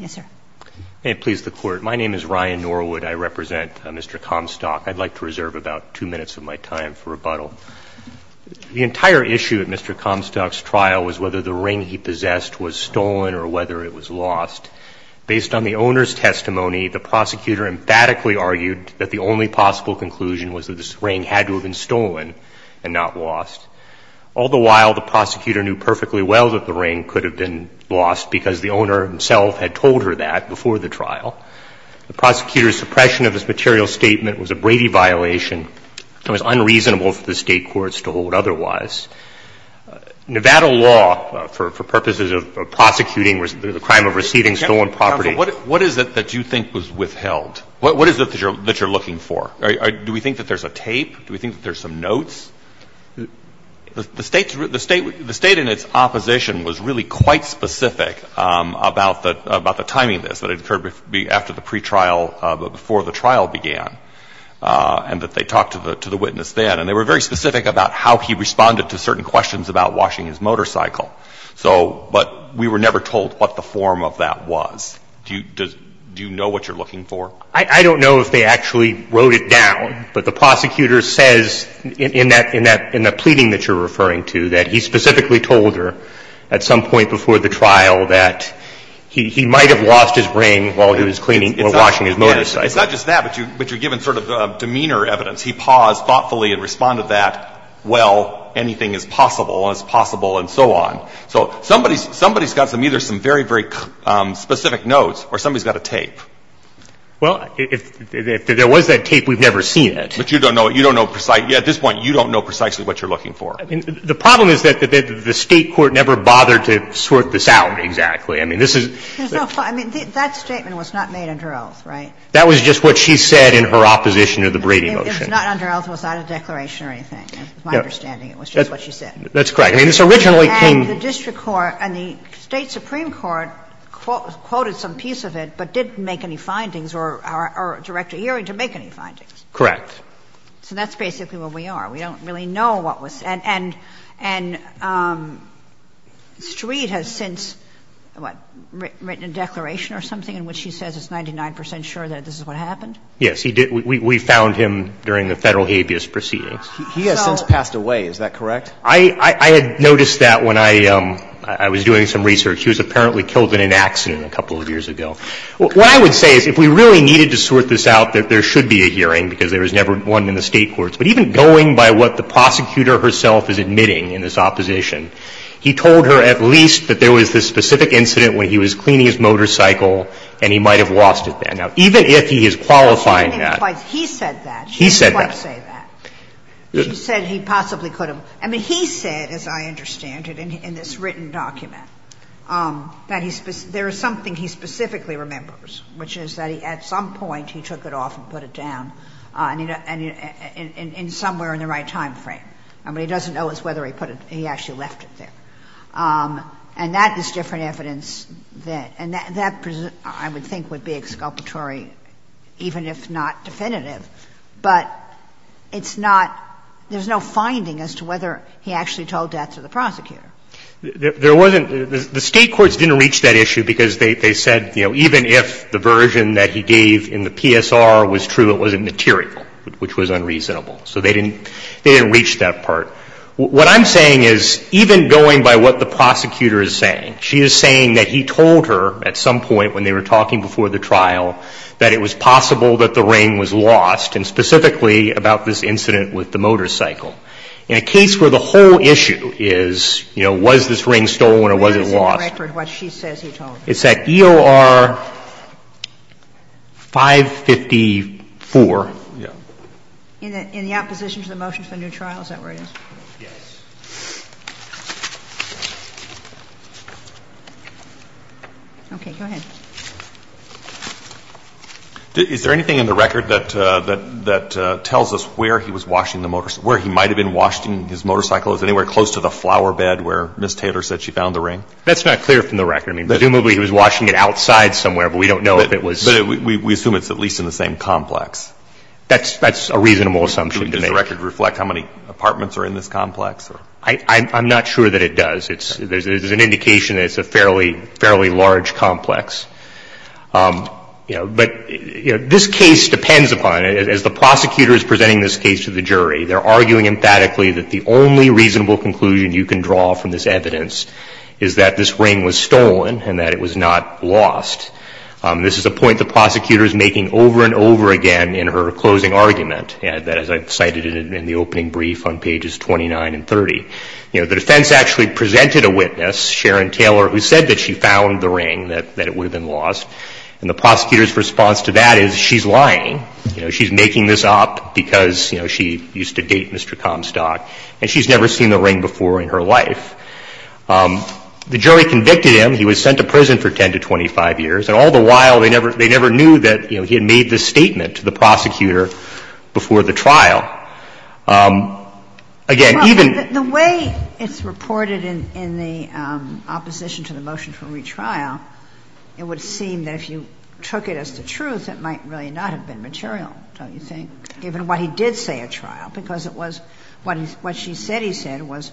May it please the Court, my name is Ryan Norwood. I represent Mr. Comstock. I'd like to reserve about two minutes of my time for rebuttal. The entire issue at Mr. Comstock's trial was whether the ring he possessed was stolen or whether it was lost. Based on the owner's testimony, the prosecutor emphatically argued that the only possible conclusion was that this ring had to have been stolen and not lost. All the while, the prosecutor knew perfectly well that the ring could have been lost because the owner himself had told her that before the trial. The prosecutor's suppression of his material statement was a Brady violation and was unreasonable for the State courts to hold otherwise. Nevada law, for purposes of prosecuting the crime of receiving stolen property What is it that you think was withheld? What is it that you're looking for? Do we think that there's a tape? Do we think that there's some notes? The State in its opposition was really quite specific about the timing of this. That it occurred after the pretrial, but before the trial began. And that they talked to the witness then. And they were very specific about how he responded to certain questions about washing his motorcycle. So, but we were never told what the form of that was. Do you know what you're looking for? I don't know if they actually wrote it down. But the prosecutor says in that pleading that you're referring to, that he specifically told her at some point before the trial that he might have lost his ring while he was cleaning or washing his motorcycle. It's not just that, but you're given sort of demeanor evidence. He paused thoughtfully and responded that, well, anything is possible, and it's possible and so on. So somebody's got either some very, very specific notes or somebody's got a tape. Well, if there was that tape, we've never seen it. But you don't know. You don't know precisely. At this point, you don't know precisely what you're looking for. I mean, the problem is that the State court never bothered to sort this out exactly. I mean, this is. I mean, that statement was not made under oath, right? That was just what she said in her opposition of the Brady motion. It was not under oath. It was not a declaration or anything. That's my understanding. It was just what she said. That's correct. I mean, this originally came. The district court and the State supreme court quoted some piece of it, but didn't make any findings or direct a hearing to make any findings. Correct. So that's basically where we are. We don't really know what was said. And Street has since, what, written a declaration or something in which he says it's 99 percent sure that this is what happened? Yes. He did. We found him during the Federal habeas proceedings. He has since passed away. Is that correct? I had noticed that when I was doing some research. He was apparently killed in an accident a couple of years ago. What I would say is if we really needed to sort this out, that there should be a hearing because there was never one in the State courts. But even going by what the prosecutor herself is admitting in this opposition, he told her at least that there was this specific incident when he was cleaning his motorcycle and he might have lost it then. Now, even if he is qualifying that. He said that. He said that. She didn't quite say that. She said he possibly could have. I mean, he said, as I understand it, in this written document, that there is something he specifically remembers, which is that at some point he took it off and put it down somewhere in the right time frame. I mean, he doesn't know as to whether he put it or he actually left it there. And that is different evidence. And that, I would think, would be exculpatory, even if not definitive. But it's not – there's no finding as to whether he actually told that to the prosecutor. There wasn't – the State courts didn't reach that issue because they said, you know, even if the version that he gave in the PSR was true, it wasn't material, which was unreasonable. So they didn't reach that part. What I'm saying is even going by what the prosecutor is saying, she is saying that he told her at some point when they were talking before the trial that it was lost, and specifically about this incident with the motorcycle. In a case where the whole issue is, you know, was this ring stolen or was it lost? What is the record of what she says he told her? It's at EOR 554. In the opposition to the motion for a new trial, is that where it is? Yes. Okay. Go ahead. Is there anything in the record that tells us where he was washing the motorcycle – where he might have been washing his motorcycle? Is it anywhere close to the flower bed where Ms. Taylor said she found the ring? That's not clear from the record. I mean, presumably he was washing it outside somewhere, but we don't know if it was – But we assume it's at least in the same complex. That's a reasonable assumption to make. Does the record reflect how many apartments are in this complex? I'm not sure that it does. There's an indication that it's a fairly large complex. You know, but this case depends upon it. As the prosecutor is presenting this case to the jury, they're arguing emphatically that the only reasonable conclusion you can draw from this evidence is that this ring was stolen and that it was not lost. This is a point the prosecutor is making over and over again in her closing argument, that as I cited in the opening brief on pages 29 and 30. You know, the defense actually presented a witness, Sharon Taylor, who said that she had been lost, and the prosecutor's response to that is, she's lying. You know, she's making this up because, you know, she used to date Mr. Comstock, and she's never seen the ring before in her life. The jury convicted him. He was sent to prison for 10 to 25 years. And all the while, they never – they never knew that, you know, he had made this statement to the prosecutor before the trial. Again, even – In the opposition to the motion for retrial, it would seem that if you took it as the truth, it might really not have been material, don't you think, given what he did say at trial, because it was what he – what she said he said was,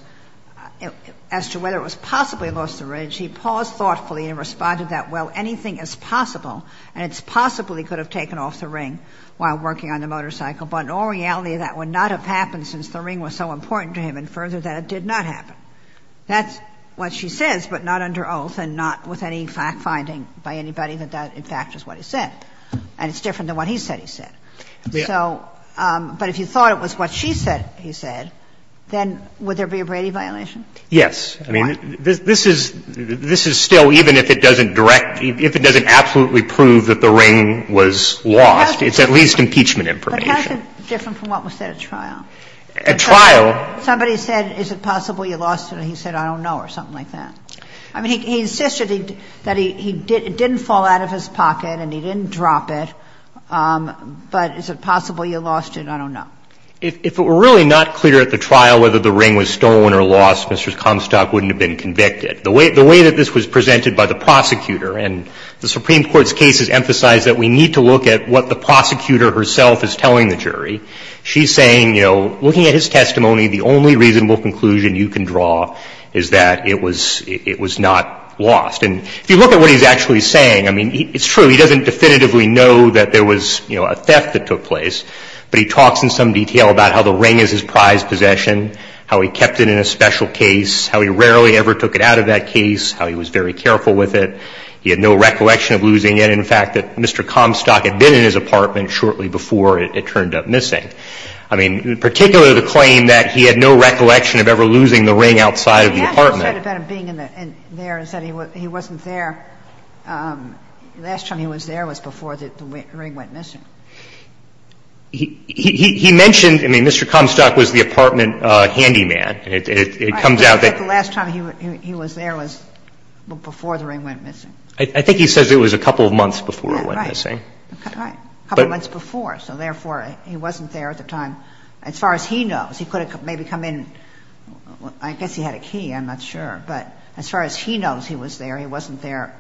as to whether it was possibly lost at the ridge, he paused thoughtfully and responded that, well, anything is possible, and it's possible he could have taken off the ring while working on the motorcycle. But in all reality, that would not have happened since the ring was so important to him, and further, that it did not happen. That's what she says, but not under oath and not with any fact finding by anybody that that, in fact, is what he said. And it's different than what he said he said. So – but if you thought it was what she said he said, then would there be a Brady violation? Yes. I mean, this is – this is still, even if it doesn't direct – if it doesn't absolutely prove that the ring was lost, it's at least impeachment information. But how is it different from what was said at trial? At trial – Somebody said, is it possible you lost it, and he said, I don't know, or something like that. I mean, he insisted that he didn't fall out of his pocket and he didn't drop it. But is it possible you lost it? I don't know. If it were really not clear at the trial whether the ring was stolen or lost, Mr. Comstock wouldn't have been convicted. The way that this was presented by the prosecutor, and the Supreme Court's cases emphasize that we need to look at what the prosecutor herself is telling the jury. She's saying, you know, looking at his testimony, the only reasonable conclusion you can draw is that it was – it was not lost. And if you look at what he's actually saying, I mean, it's true, he doesn't definitively know that there was, you know, a theft that took place, but he talks in some detail about how the ring is his prized possession, how he kept it in a special case, how he rarely ever took it out of that case, how he was very careful with it. He had no recollection of losing it, and the fact that Mr. Comstock had been in his apartment before the ring went missing, I mean, particularly the claim that he had no recollection of ever losing the ring outside of the apartment. He has said about him being in there, he said he wasn't there, last time he was there was before the ring went missing. He mentioned, I mean, Mr. Comstock was the apartment handyman. It comes out that the last time he was there was before the ring went missing. I think he says it was a couple of months before it went missing. Right. A couple of months before, so therefore, he wasn't there at the time. As far as he knows, he could have maybe come in, I guess he had a key, I'm not sure, but as far as he knows he was there, he wasn't there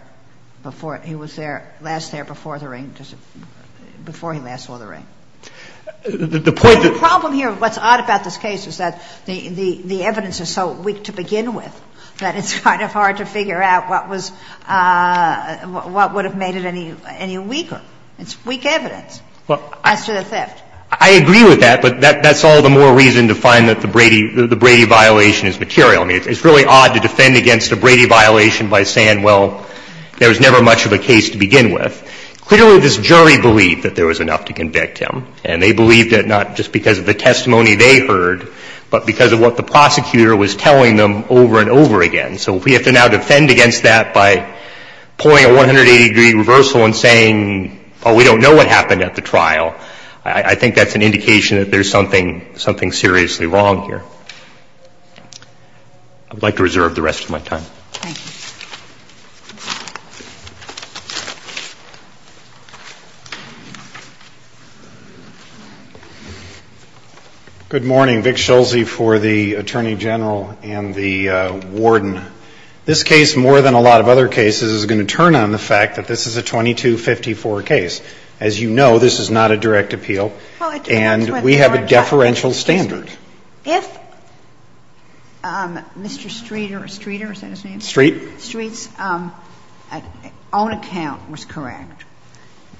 before he was there, last there before the ring, just before he last saw the ring. The point of the problem here, what's odd about this case is that the evidence is so weak to begin with that it's kind of hard to figure out what was, what would have made it any weaker. It's weak evidence as to the theft. I agree with that, but that's all the more reason to find that the Brady, the Brady violation is material. I mean, it's really odd to defend against a Brady violation by saying, well, there was never much of a case to begin with. Clearly, this jury believed that there was enough to convict him, and they believed it not just because of the testimony they heard, but because of what the prosecutor was telling them over and over again. So we have to now defend against that by pulling a 180-degree reversal and saying, oh, we don't know what happened at the trial. I think that's an indication that there's something seriously wrong here. I would like to reserve the rest of my time. Thank you. Good morning. Vic Schulze for the Attorney General and the Warden. This case, more than a lot of other cases, is going to turn on the fact that this is a 2254 case. As you know, this is not a direct appeal. And we have a deferential standard. If Mr. Streeter, Streeter, is that his name? Street. Street's own account was correct.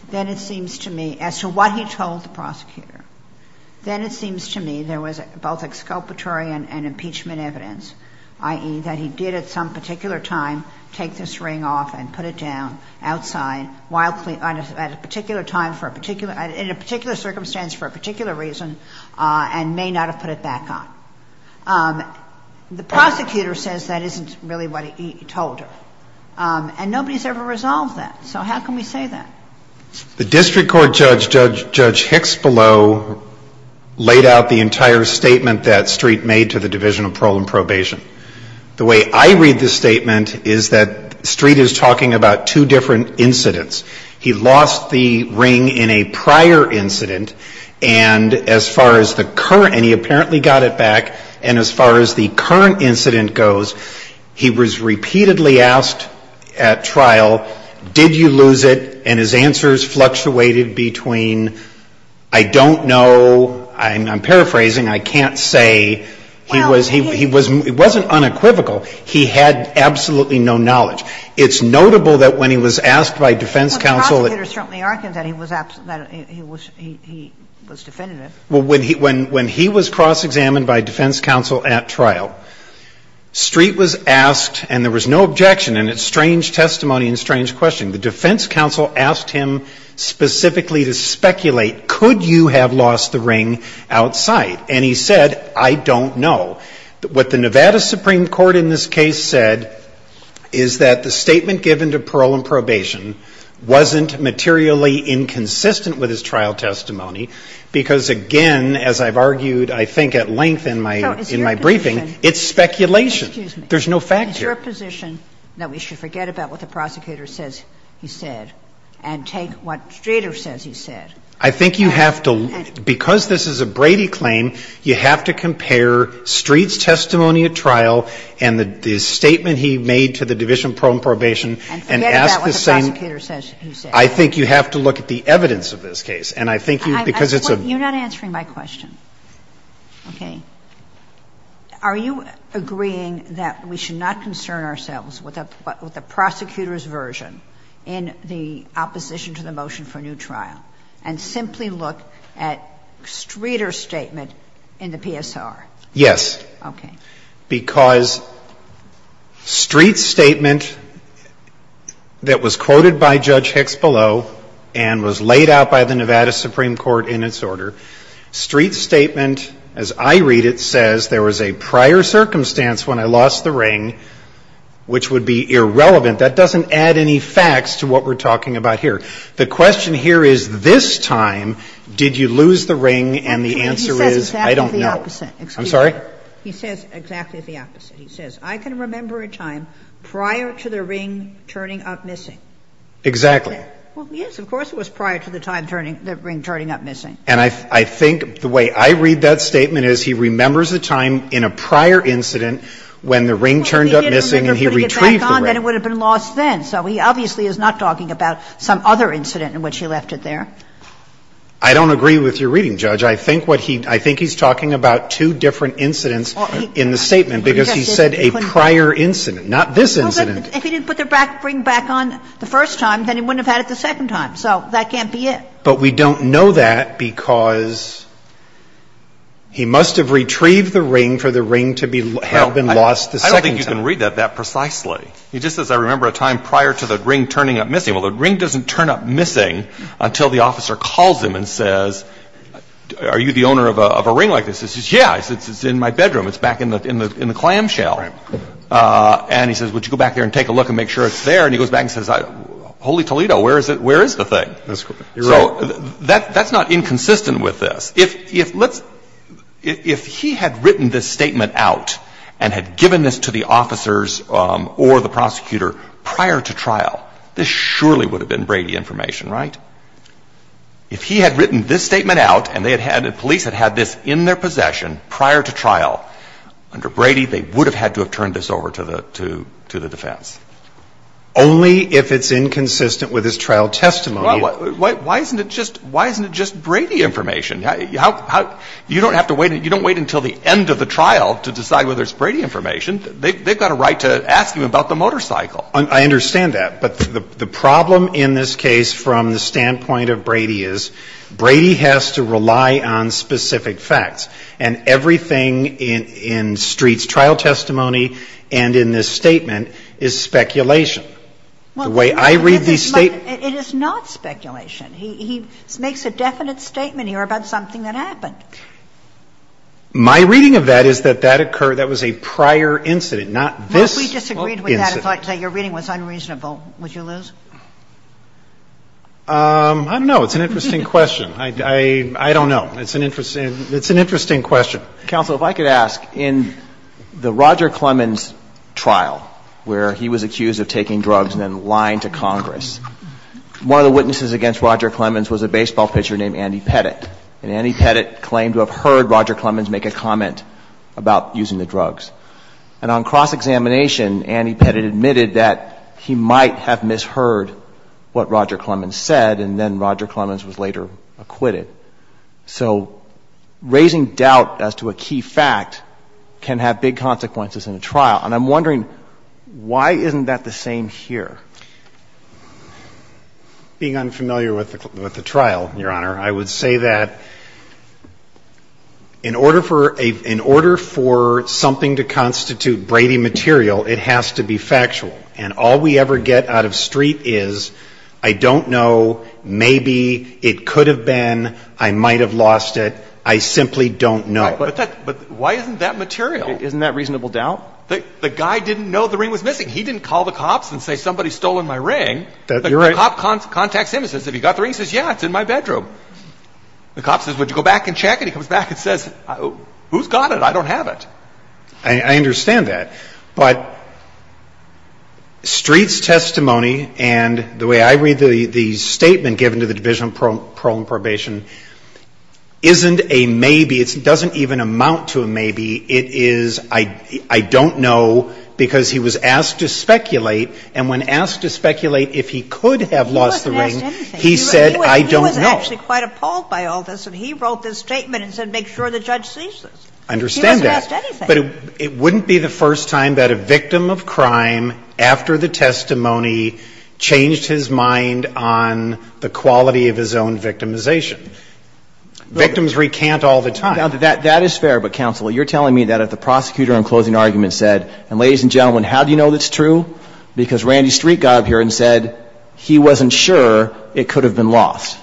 Then it seems to me, as to what he told the prosecutor, then it seems to me there was both exculpatory and impeachment evidence, i.e., that he did at some particular time take this ring off and put it down outside while at a particular time for a particular – in a particular circumstance for a particular reason and may not have put it back on. The prosecutor says that isn't really what he told her. And nobody's ever resolved that. So how can we say that? The district court judge, Judge Hicks-Below, laid out the entire statement that Street made to the Division of Parole and Probation. The way I read the statement is that Street is talking about two different incidents. He lost the ring in a prior incident, and as far as the current – and he apparently got it back. And as far as the current incident goes, he was repeatedly asked at trial, did you lose it? And his answers fluctuated between, I don't know – I'm paraphrasing. I can't say. He was – he was – it wasn't unequivocal. He had absolutely no knowledge. It's notable that when he was asked by defense counsel – Well, the prosecutor certainly argued that he was – that he was definitive. Well, when he was cross-examined by defense counsel at trial, Street was asked – and there was no objection, and it's strange testimony and strange questioning. The defense counsel asked him specifically to speculate, could you have lost the ring outside? And he said, I don't know. What the Nevada Supreme Court in this case said is that the statement given to parole and probation wasn't materially inconsistent with his trial testimony, because again, as I've argued, I think, at length in my briefing, it's speculation. There's no fact here. Is your position that we should forget about what the prosecutor says he said and take what Streeter says he said? I think you have to – because this is a Brady claim, you have to compare Street's testimony at trial and the statement he made to the division of parole and probation and ask the same – And forget about what the prosecutor says he said. I think you have to look at the evidence of this case. And I think you – because it's a – You're not answering my question. Okay. Are you agreeing that we should not concern ourselves with a prosecutor's version in the opposition to the motion for a new trial and simply look at Streeter's statement in the PSR? Yes. Okay. Well, I'm not going to go into that because Street's statement that was quoted by Judge Hicks below and was laid out by the Nevada Supreme Court in its order, Street's statement, as I read it, says there was a prior circumstance when I lost the ring, which would be irrelevant. That doesn't add any facts to what we're talking about here. The question here is, this time, did you lose the ring? And the answer is, I don't know. He says exactly the opposite. Excuse me. I'm sorry? He says exactly the opposite. He says, I can remember a time prior to the ring turning up missing. Exactly. Well, yes, of course it was prior to the time turning – the ring turning up missing. And I think the way I read that statement is he remembers a time in a prior incident when the ring turned up missing and he retrieved the ring. Well, if he didn't remember before he got back on, then it would have been lost the second time. So he obviously is not talking about some other incident in which he left it there. I don't agree with your reading, Judge. I think what he – I think he's talking about two different incidents in the statement because he said a prior incident, not this incident. Well, if he didn't put the ring back on the first time, then he wouldn't have had it the second time. So that can't be it. But we don't know that because he must have retrieved the ring for the ring to have been lost the second time. I don't think you can read that that precisely. He just says, I remember a time prior to the ring turning up missing. Well, the ring doesn't turn up missing until the officer calls him and says, are you the owner of a ring like this? He says, yeah. He says, it's in my bedroom. It's back in the clamshell. Right. And he says, would you go back there and take a look and make sure it's there? And he goes back and says, holy Toledo, where is it – where is the thing? That's correct. You're right. So that's not inconsistent with this. If he had written this statement out and had given this to the officers or the prosecutor prior to trial, this surely would have been Brady information, right? If he had written this statement out and they had had – the police had had this in their possession prior to trial under Brady, they would have had to have turned this over to the defense. Only if it's inconsistent with his trial testimony. Why isn't it just Brady information? How – you don't have to wait – you don't wait until the end of the trial to decide whether it's Brady information. They've got a right to ask you about the motorcycle. I understand that. But the problem in this case from the standpoint of Brady is Brady has to rely on specific facts. And everything in Street's trial testimony and in this statement is speculation. The way I read these statements – It is not speculation. He makes a definite statement here about something that happened. My reading of that is that that occurred – that was a prior incident, not this incident. Well, we disagreed with that and thought that your reading was unreasonable. Would you lose? I don't know. It's an interesting question. I don't know. It's an interesting question. baseball pitcher named Andy Pettit. And Andy Pettit claimed to have heard Roger Clemens make a comment about using the drugs. And on cross-examination, Andy Pettit admitted that he might have misheard what Roger Clemens said, and then Roger Clemens was later acquitted. So raising doubt as to a key fact can have big consequences in a trial. And I'm wondering, why isn't that the same here? Being unfamiliar with the trial, Your Honor, I would say that in order for something to constitute Brady material, it has to be factual. And all we ever get out of street is, I don't know, maybe, it could have been, I might have lost it, I simply don't know. But why isn't that material? Isn't that reasonable doubt? The guy didn't know the ring was missing. He didn't call the cops and say, somebody's stolen my ring. The cop contacts him and says, have you got the ring? He says, yeah, it's in my bedroom. The cop says, would you go back and check it? He comes back and says, who's got it? I don't have it. I understand that. But street's testimony and the way I read the statement given to the Division of Parole and Probation isn't a maybe. It doesn't even amount to a maybe. It is, I don't know, because he was asked to speculate, and when asked to speculate if he could have lost the ring, he said, I don't know. He wasn't actually quite appalled by all this, and he wrote this statement and said, make sure the judge sees this. I understand that. He wasn't asked anything. But it wouldn't be the first time that a victim of crime, after the testimony, changed his mind on the quality of his own victimization. Victims recant all the time. Now, that is fair, but counsel, you're telling me that if the prosecutor in closing argument said, and ladies and gentlemen, how do you know that's true? Because Randy Street got up here and said he wasn't sure it could have been lost.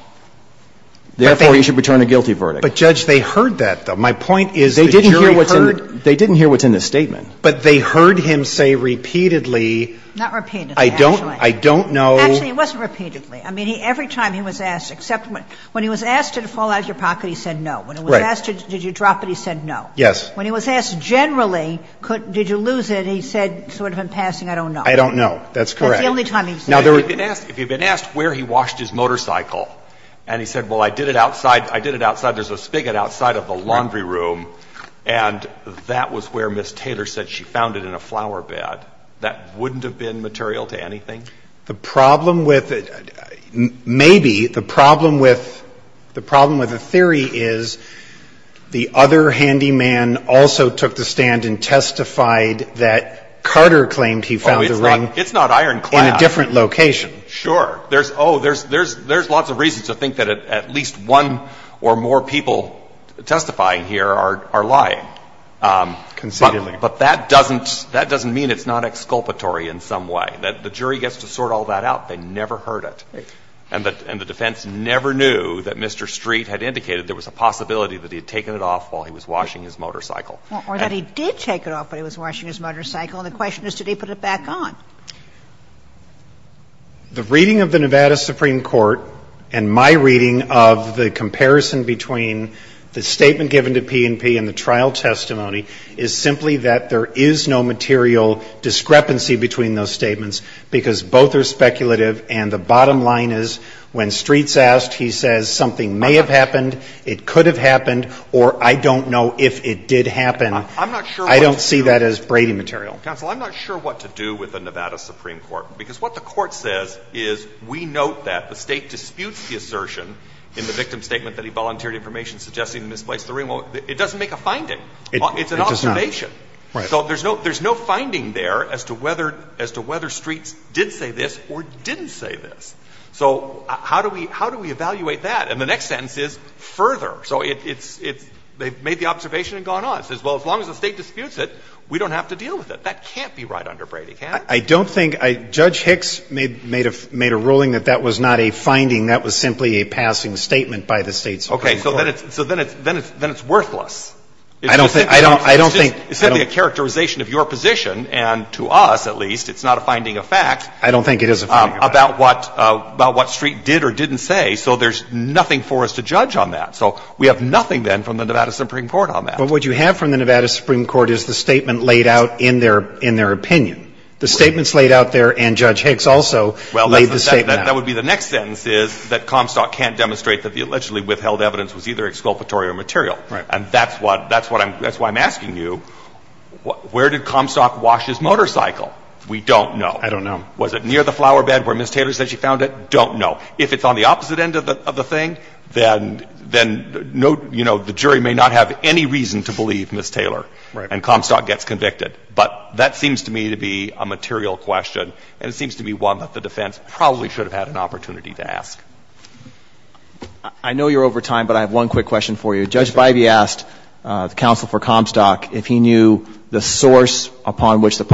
Therefore, you should return a guilty verdict. But, Judge, they heard that, though. My point is the jury heard. They didn't hear what's in the statement. But they heard him say repeatedly. Not repeatedly, actually. I don't know. Actually, it wasn't repeatedly. I mean, every time he was asked, except when he was asked did it fall out of your pocket, he said no. When he was asked did you drop it, he said no. Yes. When he was asked generally, did you lose it, he said sort of in passing, I don't know. I don't know. That's correct. That's the only time he said it. Now, there were. If he had been asked where he washed his motorcycle, and he said, well, I did it outside, I did it outside, there's a spigot outside of the laundry room, and that was where Ms. Taylor said she found it in a flowerbed, that wouldn't have been material to anything? The problem with it, maybe the problem with the problem with the theory is that the other handyman also took the stand and testified that Carter claimed he found the ring. Oh, it's not Ironclad. In a different location. Sure. Oh, there's lots of reasons to think that at least one or more people testifying here are lying. Conceitedly. But that doesn't mean it's not exculpatory in some way. The jury gets to sort all that out. They never heard it. Right. And the defense never knew that Mr. Street had indicated there was a possibility that he had taken it off while he was washing his motorcycle. Or that he did take it off while he was washing his motorcycle. And the question is, did he put it back on? The reading of the Nevada Supreme Court and my reading of the comparison between the statement given to P&P and the trial testimony is simply that there is no material discrepancy between those statements because both are speculative and the bottom line is when Streets asked, he says something may have happened, it could have happened, or I don't know if it did happen. I'm not sure what to do. I don't see that as Brady material. Counsel, I'm not sure what to do with the Nevada Supreme Court because what the Court says is we note that the State disputes the assertion in the victim's statement that he volunteered information suggesting he misplaced the ring. Well, it doesn't make a finding. It does not. It's an observation. Right. So there's no finding there as to whether Streets did say this or didn't say this. So how do we evaluate that? And the next sentence is further. So it's they've made the observation and gone on. It says, well, as long as the State disputes it, we don't have to deal with it. That can't be right under Brady, can it? I don't think — Judge Hicks made a ruling that that was not a finding. That was simply a passing statement by the State Supreme Court. Okay. So then it's worthless. I don't think — It's simply a characterization of your position and to us, at least. It's not a finding of fact. I don't think it is a finding of fact. About what Street did or didn't say. So there's nothing for us to judge on that. So we have nothing, then, from the Nevada Supreme Court on that. But what you have from the Nevada Supreme Court is the statement laid out in their opinion. The statement's laid out there, and Judge Hicks also laid the statement out. Well, that would be the next sentence is that Comstock can't demonstrate that the allegedly withheld evidence was either exculpatory or material. Right. And that's what I'm — that's why I'm asking you, where did Comstock wash his motorcycle? We don't know. I don't know. Was it near the flowerbed where Ms. Taylor said she found it? Don't know. If it's on the opposite end of the thing, then — then, you know, the jury may not have any reason to believe Ms. Taylor. Right. And Comstock gets convicted. But that seems to me to be a material question, and it seems to be one that the defense probably should have had an opportunity to ask. I know you're over time, but I have one quick question for you. Judge Bivey asked the counsel for Comstock if he knew the source upon which the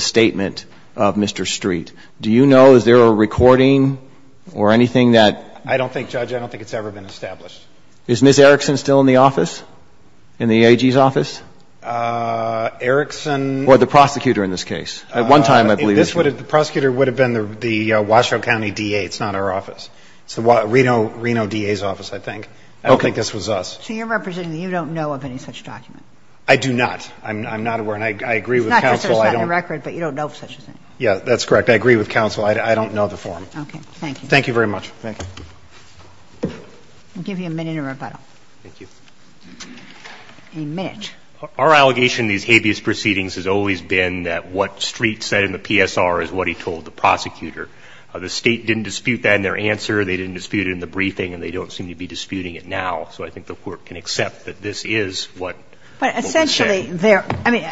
statement of Mr. Street. Do you know? Is there a recording or anything that — I don't think, Judge. I don't think it's ever been established. Is Ms. Erickson still in the office, in the AG's office? Erickson — Or the prosecutor in this case. At one time, I believe — The prosecutor would have been the Washoe County D.A. It's not our office. It's the Reno D.A.'s office, I think. Okay. I don't think this was us. So you're representing that you don't know of any such document. I do not. I'm not aware. And I agree with counsel. It's not just that it's not in the record, but you don't know of such a thing. Yeah, that's correct. I agree with counsel. I don't know the form. Okay. Thank you. Thank you very much. Thank you. I'll give you a minute in rebuttal. Thank you. A minute. Our allegation in these habeas proceedings has always been that what Street said in the PSR is what he told the prosecutor. The State didn't dispute that in their answer. They didn't dispute it in the briefing, and they don't seem to be disputing it now. So I think the Court can accept that this is what — But essentially there — I mean,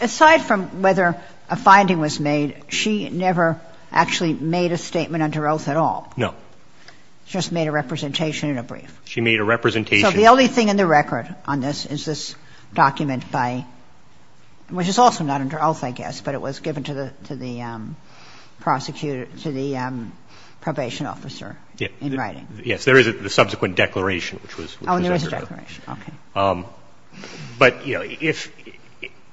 aside from whether a finding was made, she never actually made a statement under oath at all. No. She just made a representation in a brief. She made a representation — So the only thing in the record on this is this document by — which is also not under oath, I guess, but it was given to the prosecutor — to the probation officer in writing. Yes. There is a subsequent declaration, which was — Oh, there is a declaration. Okay. But, you know, if —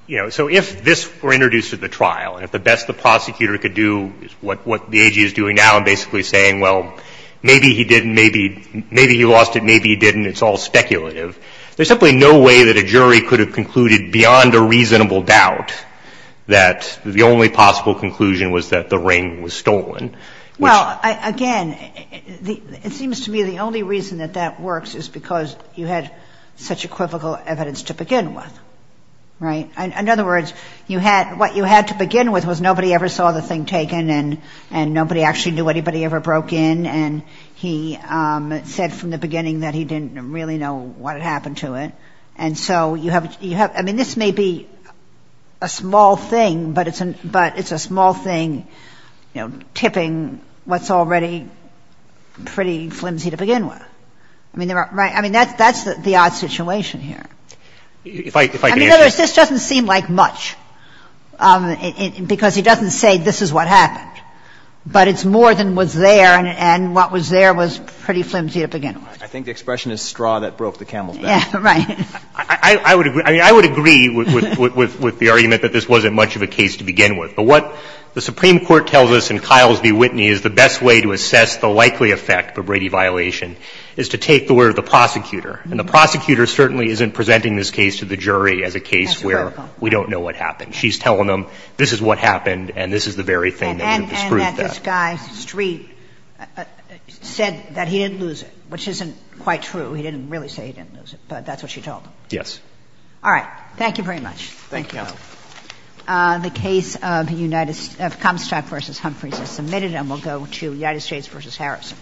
you know, so if this were introduced at the trial, and if the best the prosecutor could do is what the AG is doing now and basically saying, well, maybe he didn't, maybe he lost it, maybe he didn't, it's all speculative, there's simply no way that a jury could have concluded beyond a reasonable doubt that the only possible conclusion was that the ring was stolen. Well, again, it seems to me the only reason that that works is because you had such equivocal evidence to begin with, right? In other words, you had — what you had to begin with was nobody ever saw the thing taken, and nobody actually knew anybody ever broke in, and he said from the beginning that he didn't really know what had happened to it. And so you have — I mean, this may be a small thing, but it's a small thing, you know, tipping what's already pretty flimsy to begin with. I mean, there are — right? I mean, that's the odd situation here. I mean, in other words, this doesn't seem like much because he doesn't say this is what happened, but it's more than was there, and what was there was pretty flimsy to begin with. I think the expression is straw that broke the camel's back. Yeah, right. I would agree. I mean, I would agree with the argument that this wasn't much of a case to begin with. But what the Supreme Court tells us in Kiles v. Whitney is the best way to assess the likely effect of a Brady violation is to take the word of the prosecutor. And the prosecutor certainly isn't presenting this case to the jury as a case where we don't know what happened. She's telling them this is what happened and this is the very thing that would have disproved that. And that this guy, Street, said that he didn't lose it, which isn't quite true. He didn't really say he didn't lose it, but that's what she told him. Yes. All right. Thank you very much. Thank you, Your Honor. The case of Comstock v. Humphreys is submitted and will go to United States v. Harris.